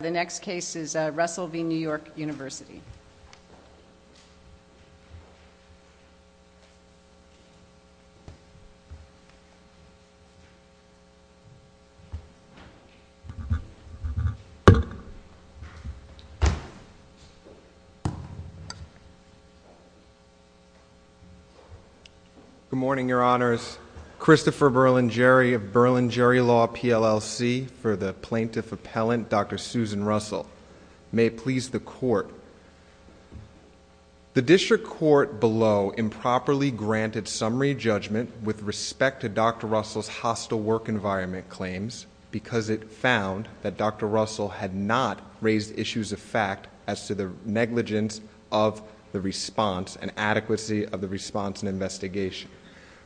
The next case is Russell v. New York University. Good morning, your honors. Christopher Berlingeri of Berlingeri Law, PLLC, for the Plaintiff Appellant, Dr. Susan Russell. May it please the Court. The District Court below improperly granted summary judgment with respect to Dr. Russell's hostile work environment claims because it found that Dr. Russell had not raised issues of fact as to the negligence of the response and adequacy of the response and investigation.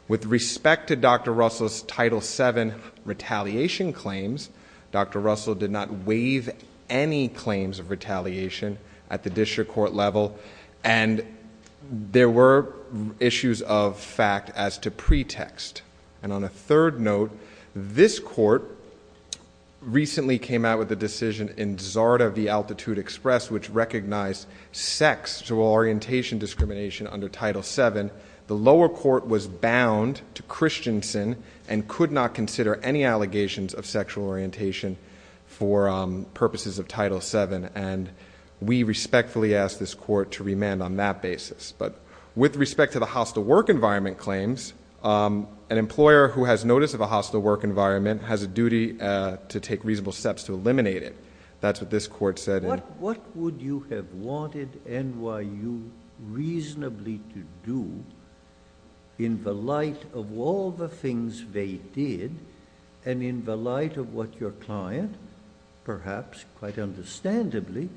With respect to Dr. Russell's Title VII retaliation claims, Dr. Russell did not waive any claims of retaliation at the District Court level, and there were issues of fact as to pretext. And on a third note, this Court recently came out with a decision in Zarda v. Altitude Express which recognized sexual orientation discrimination under Title VII. The lower court was bound to Christensen and could not consider any allegations of sexual orientation for purposes of Title VII, and we respectfully ask this Court to remand on that basis. But with respect to the hostile work environment claims, an employer who has notice of a hostile work environment has a duty to take reasonable steps to eliminate it. That's what this Court said. What would you have wanted NYU reasonably to do in the light of all the things they did and in the light of what your client, perhaps quite understandably,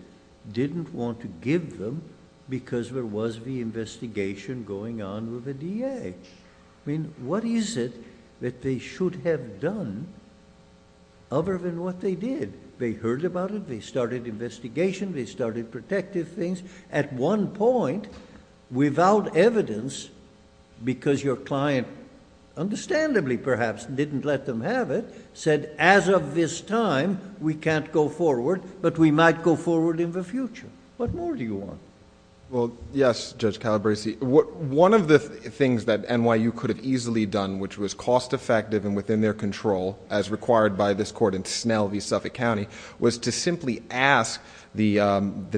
didn't want to give them because there was the investigation going on with the DA? I mean, what is it that they should have done other than what they did? They heard about it, they started investigation, they started protective things. At one point, without evidence, because your client, understandably perhaps, didn't let them have it, said, as of this time, we can't go forward, but we might go forward in the future. What more do you want? Well, yes, Judge Calabresi. One of the things that NYU could have easily done, which was cost-effective and within their control, as required by this Court in Snell v. Suffolk County, was to simply ask the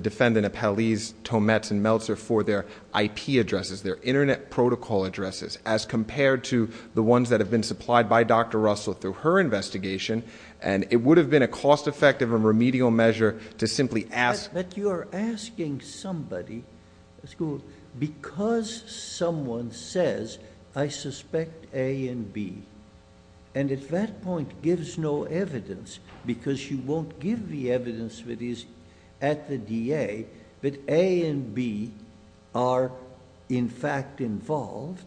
defendant of Hallease, Tometz, and Meltzer for their IP addresses, their internet protocol addresses, as compared to the ones that have been supplied by Dr. Russell through her investigation, and it would have been a cost-effective and remedial measure to simply ask. But you are asking somebody, because someone says, I suspect A and B, and at that point gives no evidence, because she won't give the evidence that is at the DA, that A and B are in fact involved,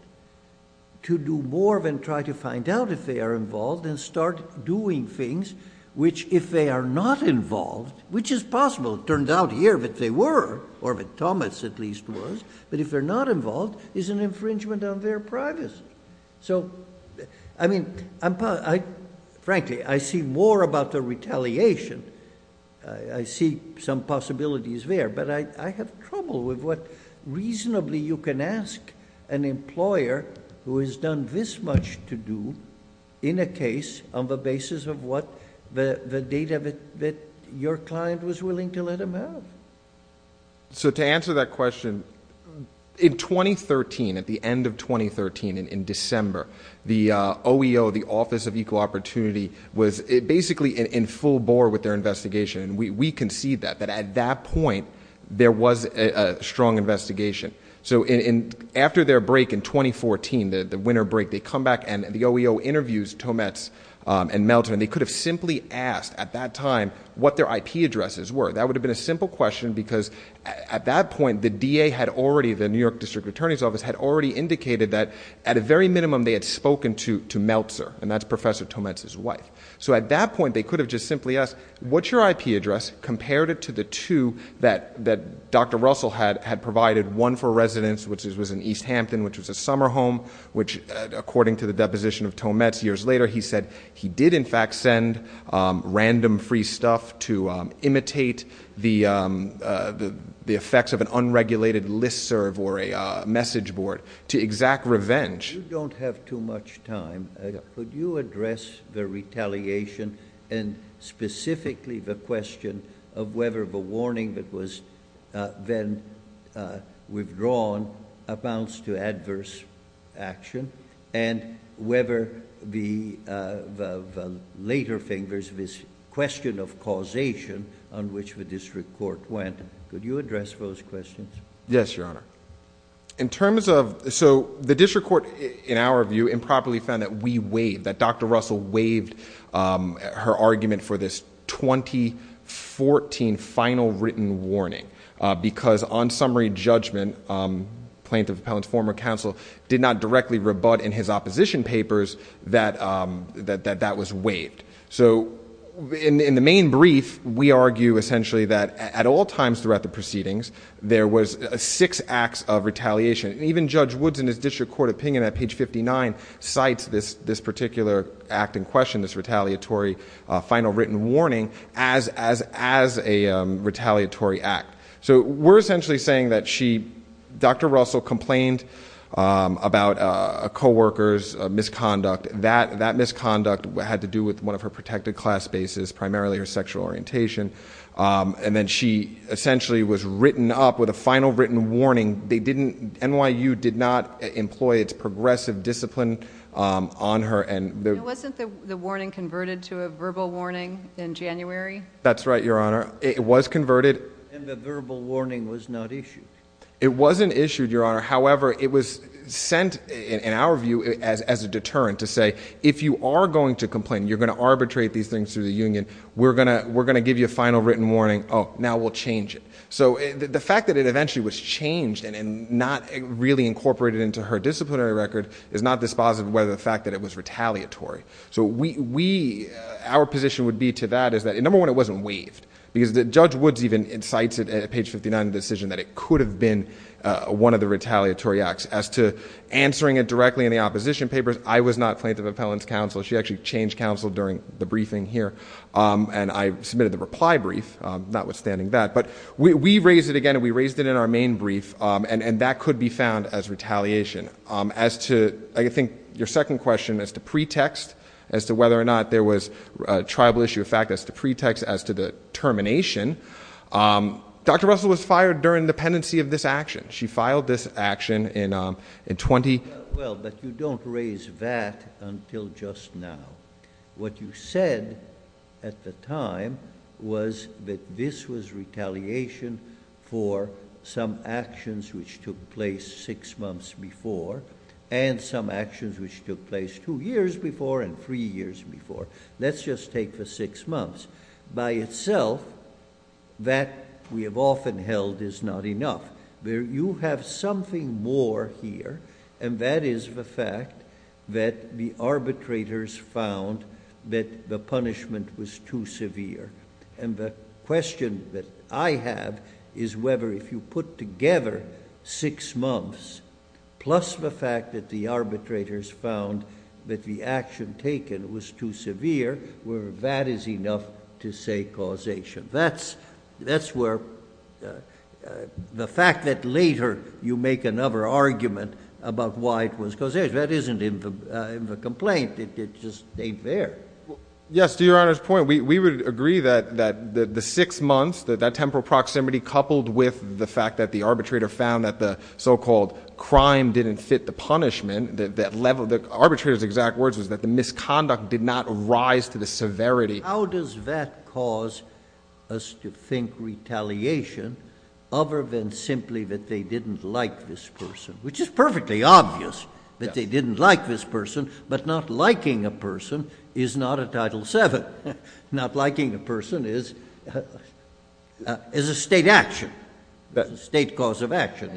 to do more than try to find out if they are involved and start doing things which, if they are not involved, which is possible, it turned out here that they were, or that Tometz at least was, but if they're not involved, is an infringement on their privacy. So, I mean, frankly, I see more about the retaliation. I see some possibilities there. But I have trouble with what reasonably you can ask an employer who has done this much to do in a case on the basis of what the data that your client was willing to let them have. So to answer that question, in 2013, at the end of 2013, in December, the OEO, the Office of Equal Opportunity, was basically in full bore with their investigation, and we concede that, that at that point there was a strong investigation. So after their break in 2014, the winter break, they come back, and the OEO interviews Tometz and Meltzer, and they could have simply asked at that time what their IP addresses were. That would have been a simple question because at that point the DA had already, the New York District Attorney's Office had already indicated that at a very minimum they had spoken to Meltzer, and that's Professor Tometz's wife. So at that point they could have just simply asked, what's your IP address compared to the two that Dr. Russell had provided, one for residence, which was in East Hampton, which was a summer home, which according to the deposition of Tometz years later, he said, he did in fact send random free stuff to imitate the effects of an unregulated listserv or a message board, to exact revenge. You don't have too much time. Could you address the retaliation and specifically the question of whether the warning that was then withdrawn amounts to adverse action and whether the later thing, there's this question of causation on which the district court went. Could you address those questions? Yes, Your Honor. In terms of, so the district court in our view improperly found that we waived, that Dr. Russell waived her argument for this 2014 final written warning because on summary judgment, Plaintiff Appellant's former counsel did not directly rebut in his opposition papers that that was waived. So in the main brief, we argue essentially that at all times throughout the proceedings, there was six acts of retaliation. Even Judge Woods in his district court opinion at page 59 cites this particular act in question, this retaliatory final written warning as a retaliatory act. So we're essentially saying that she, Dr. Russell complained about a co-worker's misconduct. That misconduct had to do with one of her protected class bases, primarily her sexual orientation. And then she essentially was written up with a final written warning. They didn't, NYU did not employ its progressive discipline on her. And wasn't the warning converted to a verbal warning in January? That's right, Your Honor. It was converted. And the verbal warning was not issued. It wasn't issued, Your Honor. However, it was sent in our view as a deterrent to say, if you are going to complain, you're going to arbitrate these things through the union. We're going to give you a final written warning. Oh, now we'll change it. So the fact that it eventually was changed and not really incorporated into her disciplinary record is not dispositive of the fact that it was retaliatory. So our position would be to that is that, number one, it wasn't waived. Because Judge Woods even incites it at page 59 of the decision that it could have been one of the retaliatory acts. As to answering it directly in the opposition papers, I was not plaintiff appellant's counsel. She actually changed counsel during the briefing here. And I submitted the reply brief, notwithstanding that. But we raised it again, and we raised it in our main brief. And that could be found as retaliation. As to, I think, your second question, as to pretext, as to whether or not there was tribal issue of fact, as to pretext, as to the termination, Dr. Russell was fired during the pendency of this action. She filed this action in 20- Well, but you don't raise that until just now. What you said at the time was that this was retaliation for some actions which took place six months before and some actions which took place two years before and three years before. Let's just take the six months. By itself, that we have often held is not enough. You have something more here, and that is the fact that the arbitrators found that the punishment was too severe. And the question that I have is whether if you put together six months plus the fact that the arbitrators found that the action taken was too severe, whether that is enough to say causation. That's where the fact that later you make another argument about why it was causation. That isn't in the complaint. It just ain't there. Yes, to your Honor's point, we would agree that the six months, that temporal proximity, coupled with the fact that the arbitrator found that the so-called crime didn't fit the punishment, the arbitrator's exact words was that the misconduct did not rise to the severity. How does that cause us to think retaliation other than simply that they didn't like this person, which is perfectly obvious that they didn't like this person, but not liking a person is not a Title VII. Not liking a person is a state action, a state cause of action.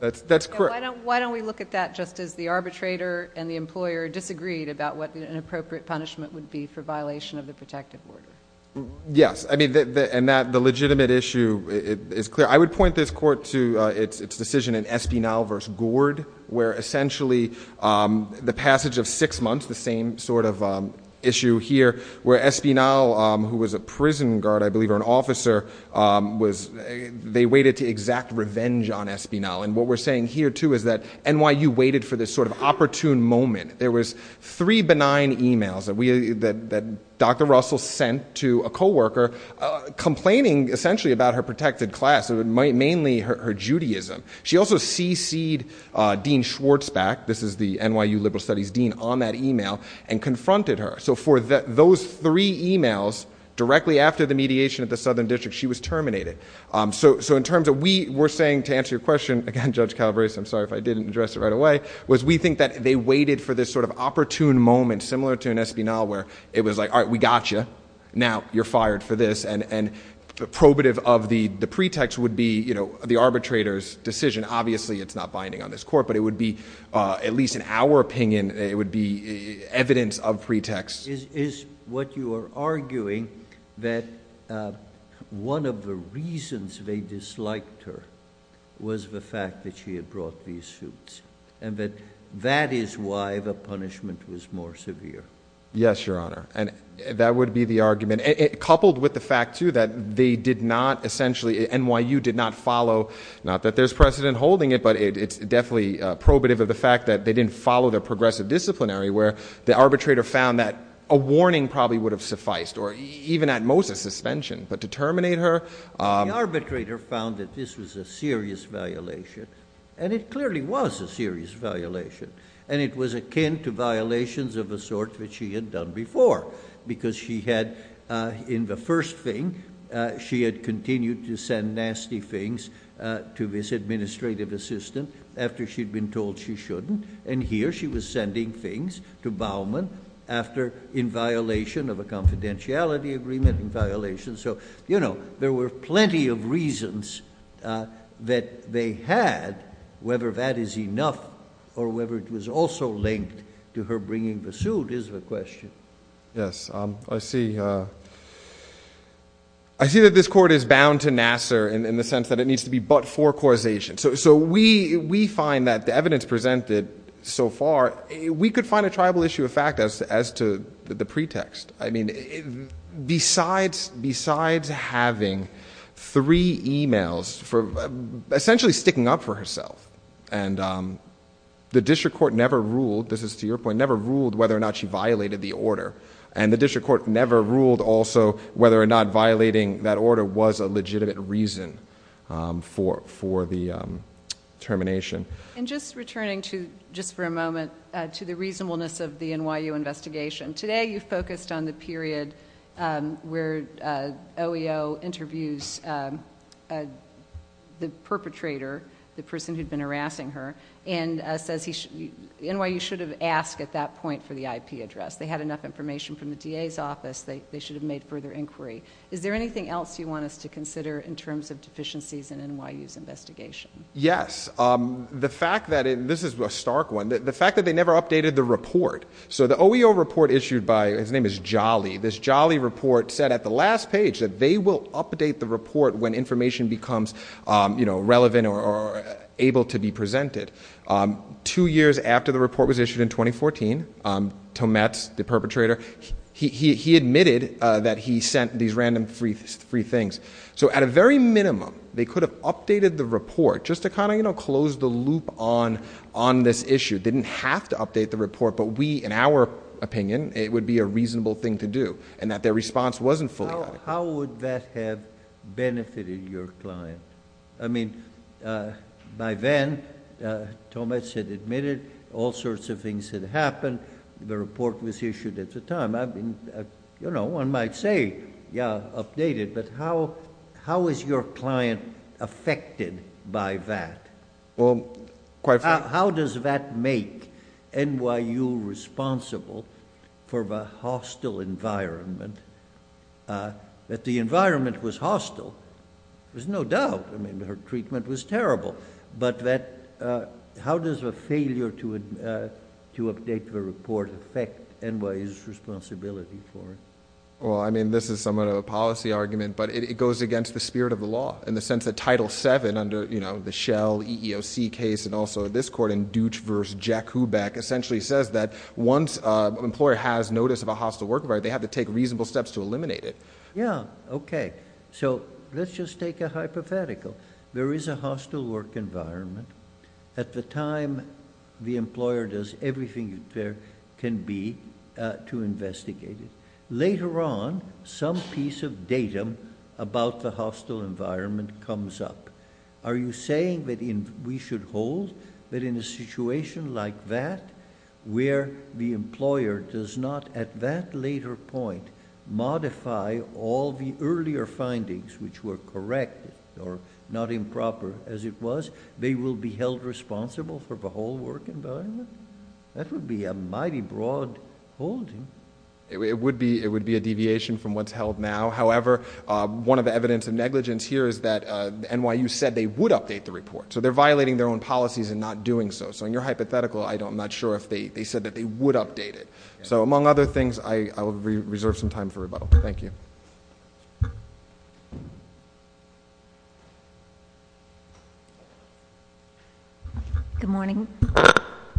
That's correct. Why don't we look at that just as the arbitrator and the employer disagreed about what an appropriate punishment would be for violation of the protective order? Yes, and the legitimate issue is clear. I would point this Court to its decision in Espinal v. Gord where essentially the passage of six months, the same sort of issue here, where Espinal, who was a prison guard, I believe, or an officer, they waited to exact revenge on Espinal. And what we're saying here, too, is that NYU waited for this sort of opportune moment. There were three benign emails that Dr. Russell sent to a co-worker complaining essentially about her protected class, mainly her Judaism. She also CC'd Dean Schwartzbeck, this is the NYU Liberal Studies Dean, on that email and confronted her. So for those three emails, directly after the mediation at the Southern District, she was terminated. So in terms of we were saying, to answer your question, again, Judge Calabresi, I'm sorry if I didn't address it right away, was we think that they waited for this sort of opportune moment, similar to an Espinal, where it was like, all right, we got you. Now you're fired for this. And probative of the pretext would be the arbitrator's decision. Obviously it's not binding on this Court, but it would be, at least in our opinion, it would be evidence of pretext. Is what you are arguing that one of the reasons they disliked her was the fact that she had brought these suits? And that that is why the punishment was more severe? Yes, Your Honor. And that would be the argument. Coupled with the fact, too, that they did not essentially, NYU did not follow, not that there's precedent holding it, but it's definitely probative of the fact that they didn't follow their progressive disciplinary, where the arbitrator found that a warning probably would have sufficed, or even at most a suspension. But to terminate her? The arbitrator found that this was a serious violation. And it clearly was a serious violation. And it was akin to violations of a sort that she had done before, because she had, in the first thing, she had continued to send nasty things to this administrative assistant after she'd been told she shouldn't. And here she was sending things to Baumann after, in violation of a confidentiality agreement, in violation. So, you know, there were plenty of reasons that they had, whether that is enough or whether it was also linked to her bringing the suit is the question. Yes, I see. I see that this court is bound to Nassar in the sense that it needs to be but for causation. So we find that the evidence presented so far, we could find a tribal issue of fact as to the pretext. I mean, besides having three e-mails for essentially sticking up for herself, and the district court never ruled, this is to your point, the district court never ruled whether or not she violated the order. And the district court never ruled also whether or not violating that order was a legitimate reason for the termination. And just returning to, just for a moment, to the reasonableness of the NYU investigation, today you focused on the period where OEO interviews the perpetrator, the person who'd been harassing her, and NYU should have asked at that point for the IP address. They had enough information from the DA's office, they should have made further inquiry. Is there anything else you want us to consider in terms of deficiencies in NYU's investigation? Yes. The fact that, and this is a stark one, the fact that they never updated the report. So the OEO report issued by, his name is Jolly, this Jolly report said at the last page that they will update the report when information becomes relevant or able to be presented. Two years after the report was issued in 2014, Tometz, the perpetrator, he admitted that he sent these random free things. So at a very minimum, they could have updated the report just to kind of close the loop on this issue. They didn't have to update the report, but we, in our opinion, it would be a reasonable thing to do, and that their response wasn't fully adequate. How would that have benefited your client? I mean, by then, Tometz had admitted all sorts of things had happened. The report was issued at the time. I mean, you know, one might say, yeah, update it, but how is your client affected by that? How does that make NYU responsible for the hostile environment, that the environment was hostile? There's no doubt. I mean, her treatment was terrible, but how does a failure to update the report affect NYU's responsibility for it? Well, I mean, this is somewhat of a policy argument, but it goes against the spirit of the law in the sense that Title VII under the Shell EEOC case and also this court in Deutch v. Jack Hubeck essentially says that once an employer has notice of a hostile work environment, they have to take reasonable steps to eliminate it. Yeah, okay. So let's just take a hypothetical. There is a hostile work environment. At the time, the employer does everything there can be to investigate it. Later on, some piece of datum about the hostile environment comes up. Are you saying that we should hold that in a situation like that where the employer does not at that later point modify all the earlier findings which were correct or not improper as it was, they will be held responsible for the whole work environment? That would be a mighty broad holding. It would be a deviation from what's held now. However, one of the evidence of negligence here is that NYU said they would update the report. So they're violating their own policies in not doing so. So in your hypothetical, I'm not sure if they said that they would update it. So among other things, I will reserve some time for rebuttal. Good morning.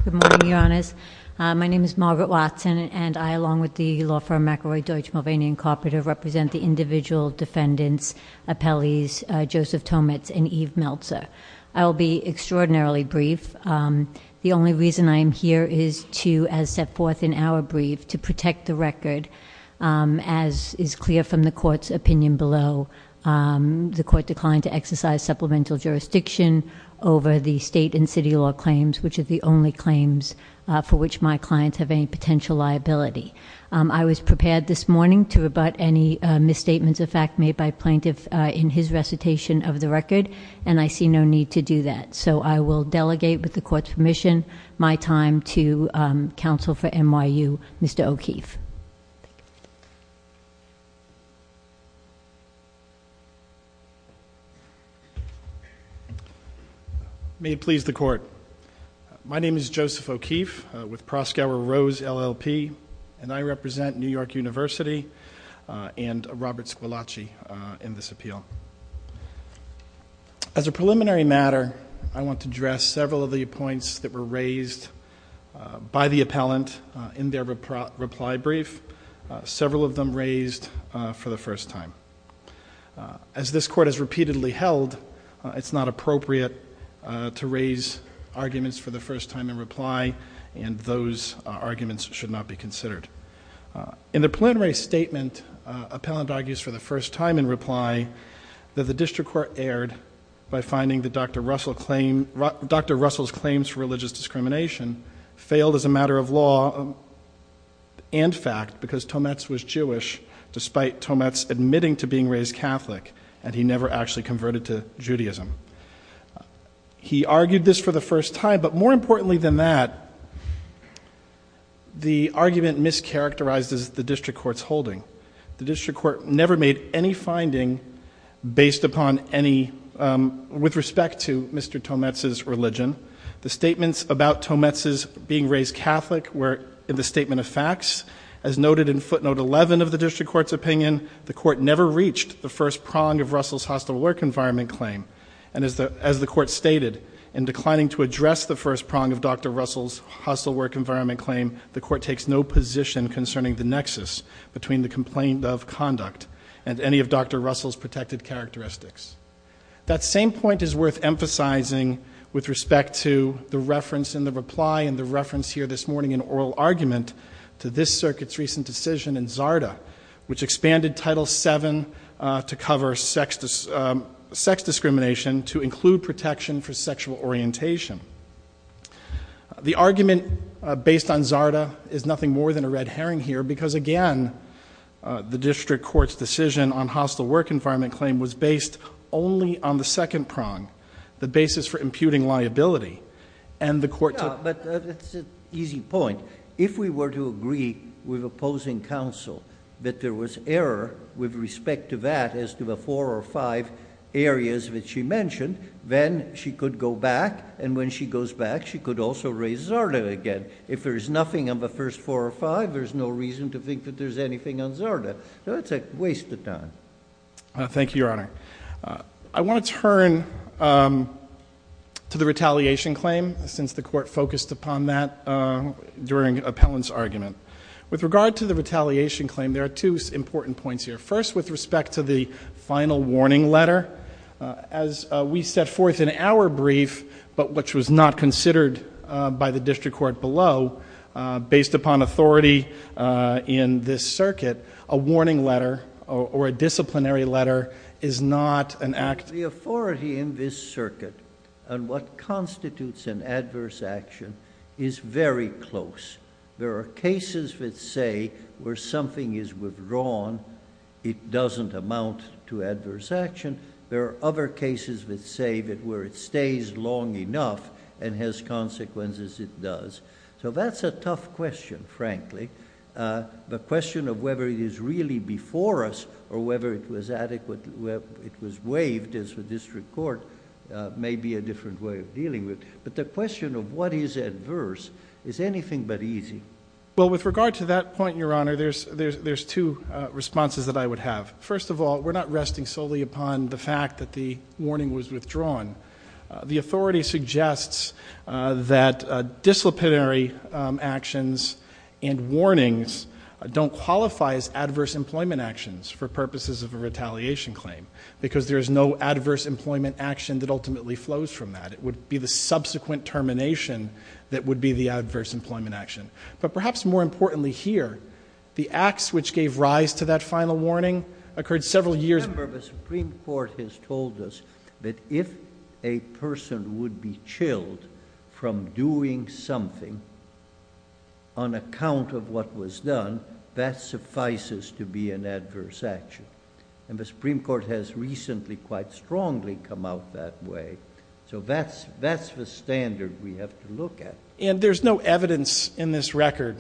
Good morning, Your Honors. My name is Margaret Watson, and I, along with the law firm McElroy, Deutsch, Mulvaney, and Carpenter represent the individual defendants, appellees, Joseph Tomitz, and Eve Meltzer. I will be extraordinarily brief. The only reason I am here is to, as set forth in our brief, to protect the record. As is clear from the court's opinion below, the court declined to exercise supplemental jurisdiction over the state and city law claims, which are the only claims for which my clients have any potential liability. I was prepared this morning to rebut any misstatements of fact made by plaintiff in his recitation of the record, and I see no need to do that. So I will delegate, with the court's permission, my time to counsel for NYU, Mr. O'Keefe. Thank you. May it please the court. My name is Joseph O'Keefe, with Proskauer Rose, LLP, and I represent New York University and Robert Scalacci in this appeal. As a preliminary matter, I want to address several of the points that were raised by the appellant in their reply brief, several of them raised for the first time. As this court has repeatedly held, it's not appropriate to raise arguments for the first time in reply, and those arguments should not be considered. In the preliminary statement, appellant argues for the first time in reply that the district court erred by finding that Dr. Russell's claims for religious discrimination failed as a matter of law and fact because Tometz was Jewish, despite Tometz admitting to being raised Catholic, and he never actually converted to Judaism. He argued this for the first time, but more importantly than that, the argument mischaracterizes the district court's holding. The district court never made any finding based upon any, with respect to Mr. Tometz's religion. The statements about Tometz's being raised Catholic were in the statement of facts. As noted in footnote 11 of the district court's opinion, the court never reached the first prong of Russell's hostile work environment claim, and as the court stated, in declining to address the first prong of Dr. Russell's hostile work environment claim, the court takes no position concerning the nexus between the complaint of conduct and any of Dr. Russell's protected characteristics. That same point is worth emphasizing with respect to the reference in the reply and the reference here this morning in oral argument to this circuit's recent decision in Zarda, which expanded Title VII to cover sex discrimination to include protection for sexual orientation. The argument based on Zarda is nothing more than a red herring here because, again, the district court's decision on hostile work environment claim was based only on the second prong, the basis for imputing liability, and the court took- But that's an easy point. If we were to agree with opposing counsel that there was error with respect to that as to the four or five areas that she mentioned, then she could go back, and when she goes back, she could also raise Zarda again. If there is nothing on the first four or five, there's no reason to think that there's anything on Zarda. That's a waste of time. Thank you, Your Honor. I want to turn to the retaliation claim since the court focused upon that during appellant's argument. With regard to the retaliation claim, there are two important points here. First, with respect to the final warning letter, as we set forth in our brief, but which was not considered by the district court below, based upon authority in this circuit, a warning letter or a disciplinary letter is not an act- The authority in this circuit on what constitutes an adverse action is very close. There are cases that say where something is withdrawn, it doesn't amount to adverse action. There are other cases that say that where it stays long enough and has consequences, it does. So that's a tough question, frankly. The question of whether it is really before us or whether it was waived as the district court may be a different way of dealing with. But the question of what is adverse is anything but easy. Well, with regard to that point, Your Honor, there's two responses that I would have. First of all, we're not resting solely upon the fact that the warning was withdrawn. The authority suggests that disciplinary actions and warnings don't qualify as adverse employment actions for purposes of a retaliation claim because there is no adverse employment action that ultimately flows from that. It would be the subsequent termination that would be the adverse employment action. But perhaps more importantly here, the acts which gave rise to that final warning occurred several years- Your Honor, the Supreme Court has told us that if a person would be chilled from doing something on account of what was done, that suffices to be an adverse action. And the Supreme Court has recently quite strongly come out that way. So that's the standard we have to look at. And there's no evidence in this record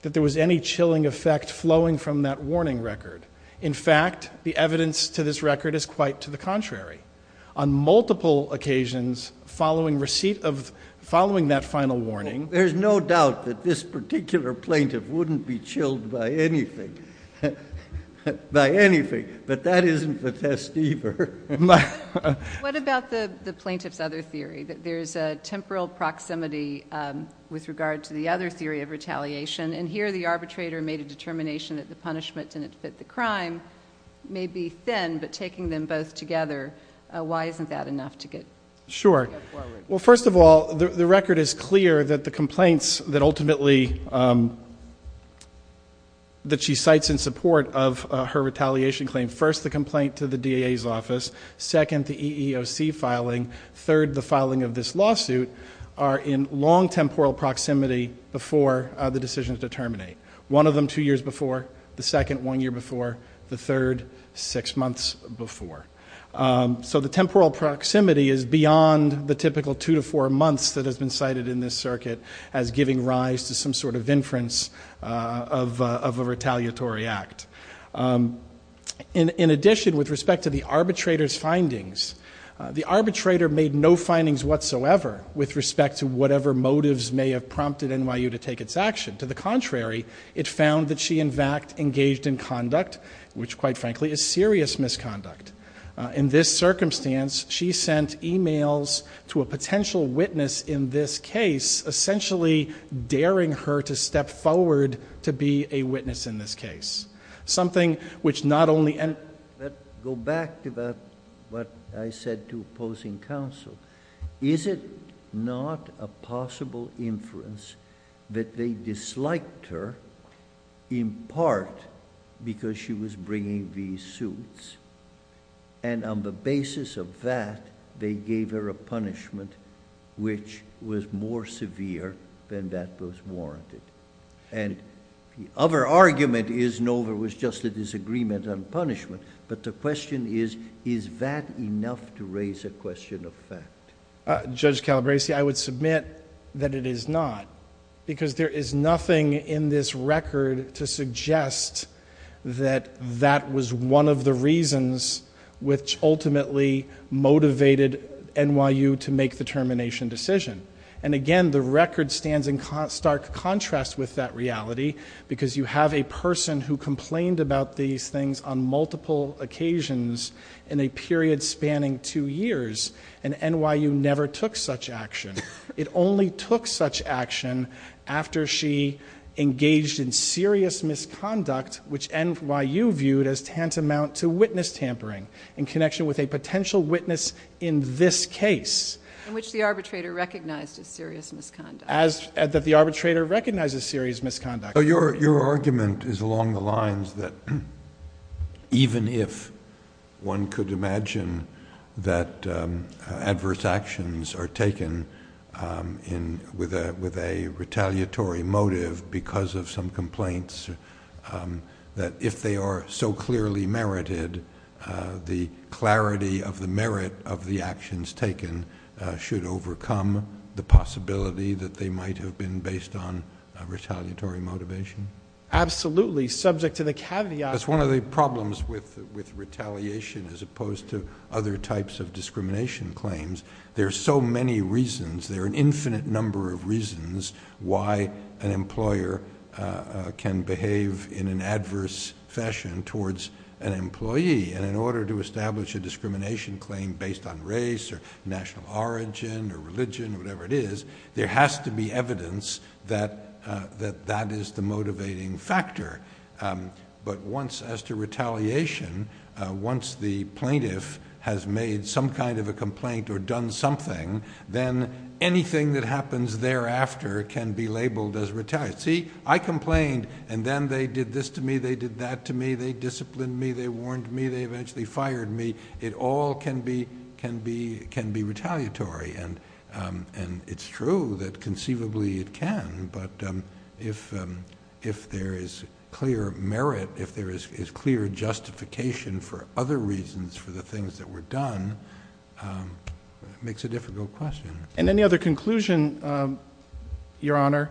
that there was any chilling effect flowing from that warning record. In fact, the evidence to this record is quite to the contrary. On multiple occasions following receipt of- following that final warning- There's no doubt that this particular plaintiff wouldn't be chilled by anything. By anything. But that isn't the test either. What about the plaintiff's other theory? There's a temporal proximity with regard to the other theory of retaliation. And here the arbitrator made a determination that the punishment didn't fit the crime. Maybe thin, but taking them both together. Why isn't that enough to get- Sure. Well, first of all, the record is clear that the complaints that ultimately- that she cites in support of her retaliation claim. First, the complaint to the DA's office. Second, the EEOC filing. Third, the filing of this lawsuit are in long temporal proximity before the decisions to terminate. One of them two years before. The second, one year before. The third, six months before. So the temporal proximity is beyond the typical two to four months that has been cited in this circuit as giving rise to some sort of inference of a retaliatory act. In addition, with respect to the arbitrator's findings, the arbitrator made no findings whatsoever with respect to whatever motives may have prompted NYU to take its action. To the contrary, it found that she, in fact, engaged in conduct which, quite frankly, is serious misconduct. In this circumstance, she sent e-mails to a potential witness in this case, essentially daring her to step forward to be a witness in this case. Something which not only... Let's go back to what I said to opposing counsel. Is it not a possible inference that they disliked her in part because she was bringing these suits? And on the basis of that, they gave her a punishment which was more severe than that was warranted. And the other argument is Nover was just a disagreement on punishment. But the question is, is that enough to raise a question of fact? Judge Calabresi, I would submit that it is not. Because there is nothing in this record to suggest that that was one of the reasons which ultimately motivated NYU to make the termination decision. And again, the record stands in stark contrast with that reality because you have a person who complained about these things on multiple occasions in a period spanning two years. And NYU never took such action. It only took such action after she engaged in serious misconduct, which NYU viewed as tantamount to witness tampering in connection with a potential witness in this case. In which the arbitrator recognized a serious misconduct. That the arbitrator recognized a serious misconduct. Your argument is along the lines that even if one could imagine that adverse actions are taken with a retaliatory motive because of some complaints that if they are so clearly merited, the clarity of the merit of the actions taken should overcome the possibility that they might have been based on a retaliatory motivation? Absolutely, subject to the caveat. That's one of the problems with retaliation as opposed to other types of discrimination claims. There are so many reasons, there are an infinite number of reasons why an employer can behave in an adverse fashion towards an employee. And in order to establish a discrimination claim based on race or national origin or religion or whatever it is, there has to be evidence that that is the motivating factor. But once as to retaliation, once the plaintiff has made some kind of a complaint or done something, then anything that happens thereafter can be labeled as retaliation. See, I complained and then they did this to me, they did that to me, they disciplined me, they warned me, they eventually fired me. It all can be retaliatory and it's true that conceivably it can. But if there is clear merit, if there is clear justification for other reasons for the things that were done, it makes a difficult question. And any other conclusion, Your Honor,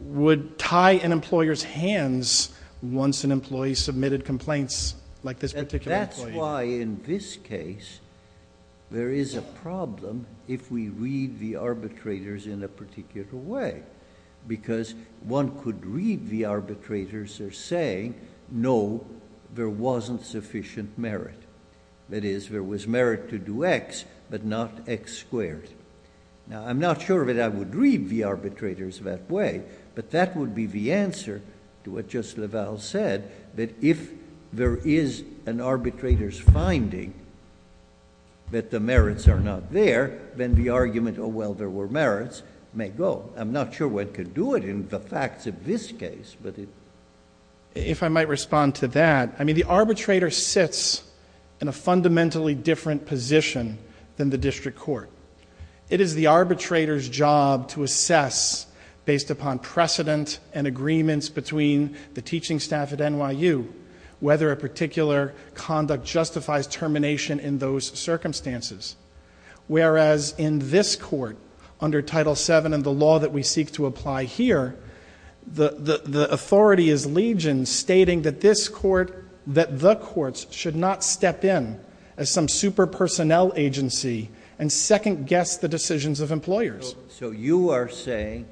would tie an employer's hands once an employee submitted complaints like this particular case? That's why in this case there is a problem if we read the arbitrators in a particular way because one could read the arbitrators as saying, no, there wasn't sufficient merit. That is, there was merit to do X, but not X squared. Now, I'm not sure that I would read the arbitrators that way, but that would be the answer to what Justice LaValle said, that if there is an arbitrator's finding that the merits are not there, then the argument, oh, well, there were merits, may go. I'm not sure one could do it in the facts of this case. If I might respond to that, I mean, the arbitrator sits in a fundamentally different position than the district court. It is the arbitrator's job to assess, based upon precedent and agreements between the teaching staff at NYU, whether a particular conduct justifies termination in those circumstances. Whereas in this court, under Title VII and the law that we seek to apply here, the authority is legion stating that the courts should not step in as some super personnel agency and second-guess the decisions of employers. So you are saying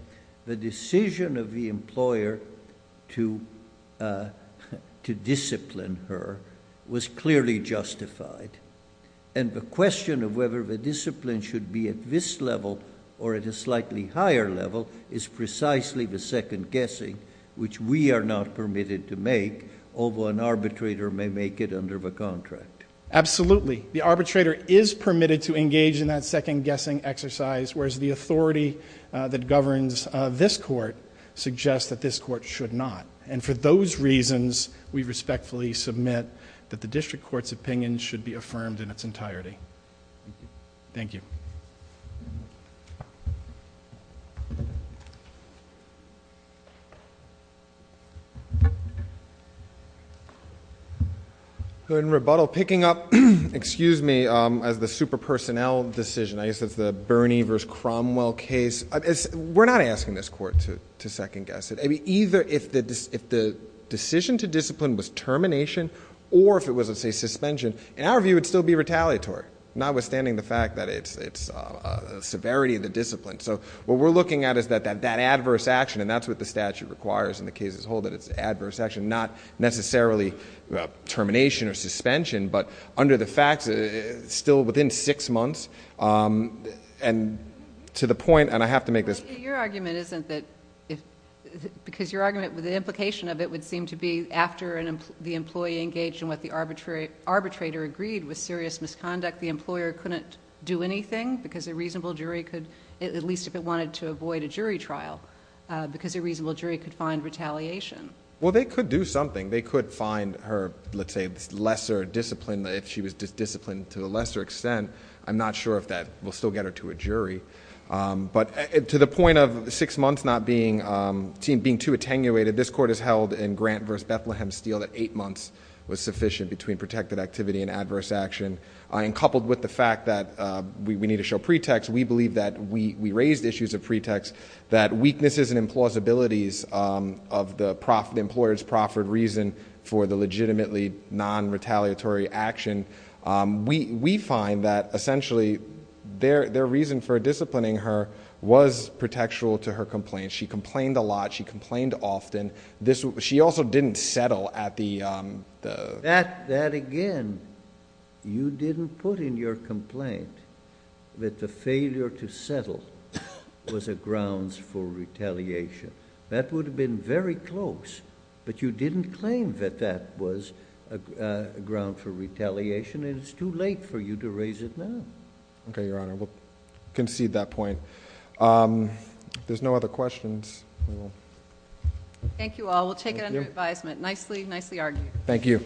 the decision of the employer to discipline her was clearly justified, and the question of whether the discipline should be at this level or at a slightly higher level is precisely the second-guessing, which we are not permitted to make, although an arbitrator may make it under the contract. Absolutely. The arbitrator is permitted to engage in that second-guessing exercise, whereas the authority that governs this court suggests that this court should not. And for those reasons, we respectfully submit that the district court's opinion should be affirmed in its entirety. Thank you. In rebuttal, picking up, excuse me, as the super personnel decision, I guess that's the Bernie versus Cromwell case. We're not asking this court to second-guess it. Either if the decision to discipline was termination or if it was, let's say, suspension, in our view it would still be retaliatory, notwithstanding the fact that it's severity of the discipline. So what we're looking at is that adverse action, and that's what the statute requires in the case as a whole, that it's adverse action, not necessarily termination or suspension, but under the facts still within six months, and to the point, and I have to make this. Your argument isn't that, because your argument with the implication of it would seem to be after the employee engaged in what the arbitrator agreed was serious misconduct, the employer couldn't do anything because a reasonable jury could, at least if it wanted to avoid a jury trial, because a reasonable jury could find retaliation. Well, they could do something. They could find her, let's say, lesser discipline, if she was disciplined to a lesser extent. But to the point of six months not being too attenuated, this court has held in Grant versus Bethlehem Steel that eight months was sufficient between protected activity and adverse action. And coupled with the fact that we need to show pretext, we believe that we raised issues of pretext, that weaknesses and implausibilities of the employer's proffered reason for the legitimately non-retaliatory action. We find that, essentially, their reason for disciplining her was pretextual to her complaint. She complained a lot. She complained often. She also didn't settle at the... That, again, you didn't put in your complaint that the failure to settle was a grounds for retaliation. That would have been very close, but you didn't claim that that was a ground for retaliation, and it's too late for you to raise it now. Okay, Your Honor. We'll concede that point. If there's no other questions, we will... Thank you all. We'll take it under advisement. Nicely, nicely argued. Thank you.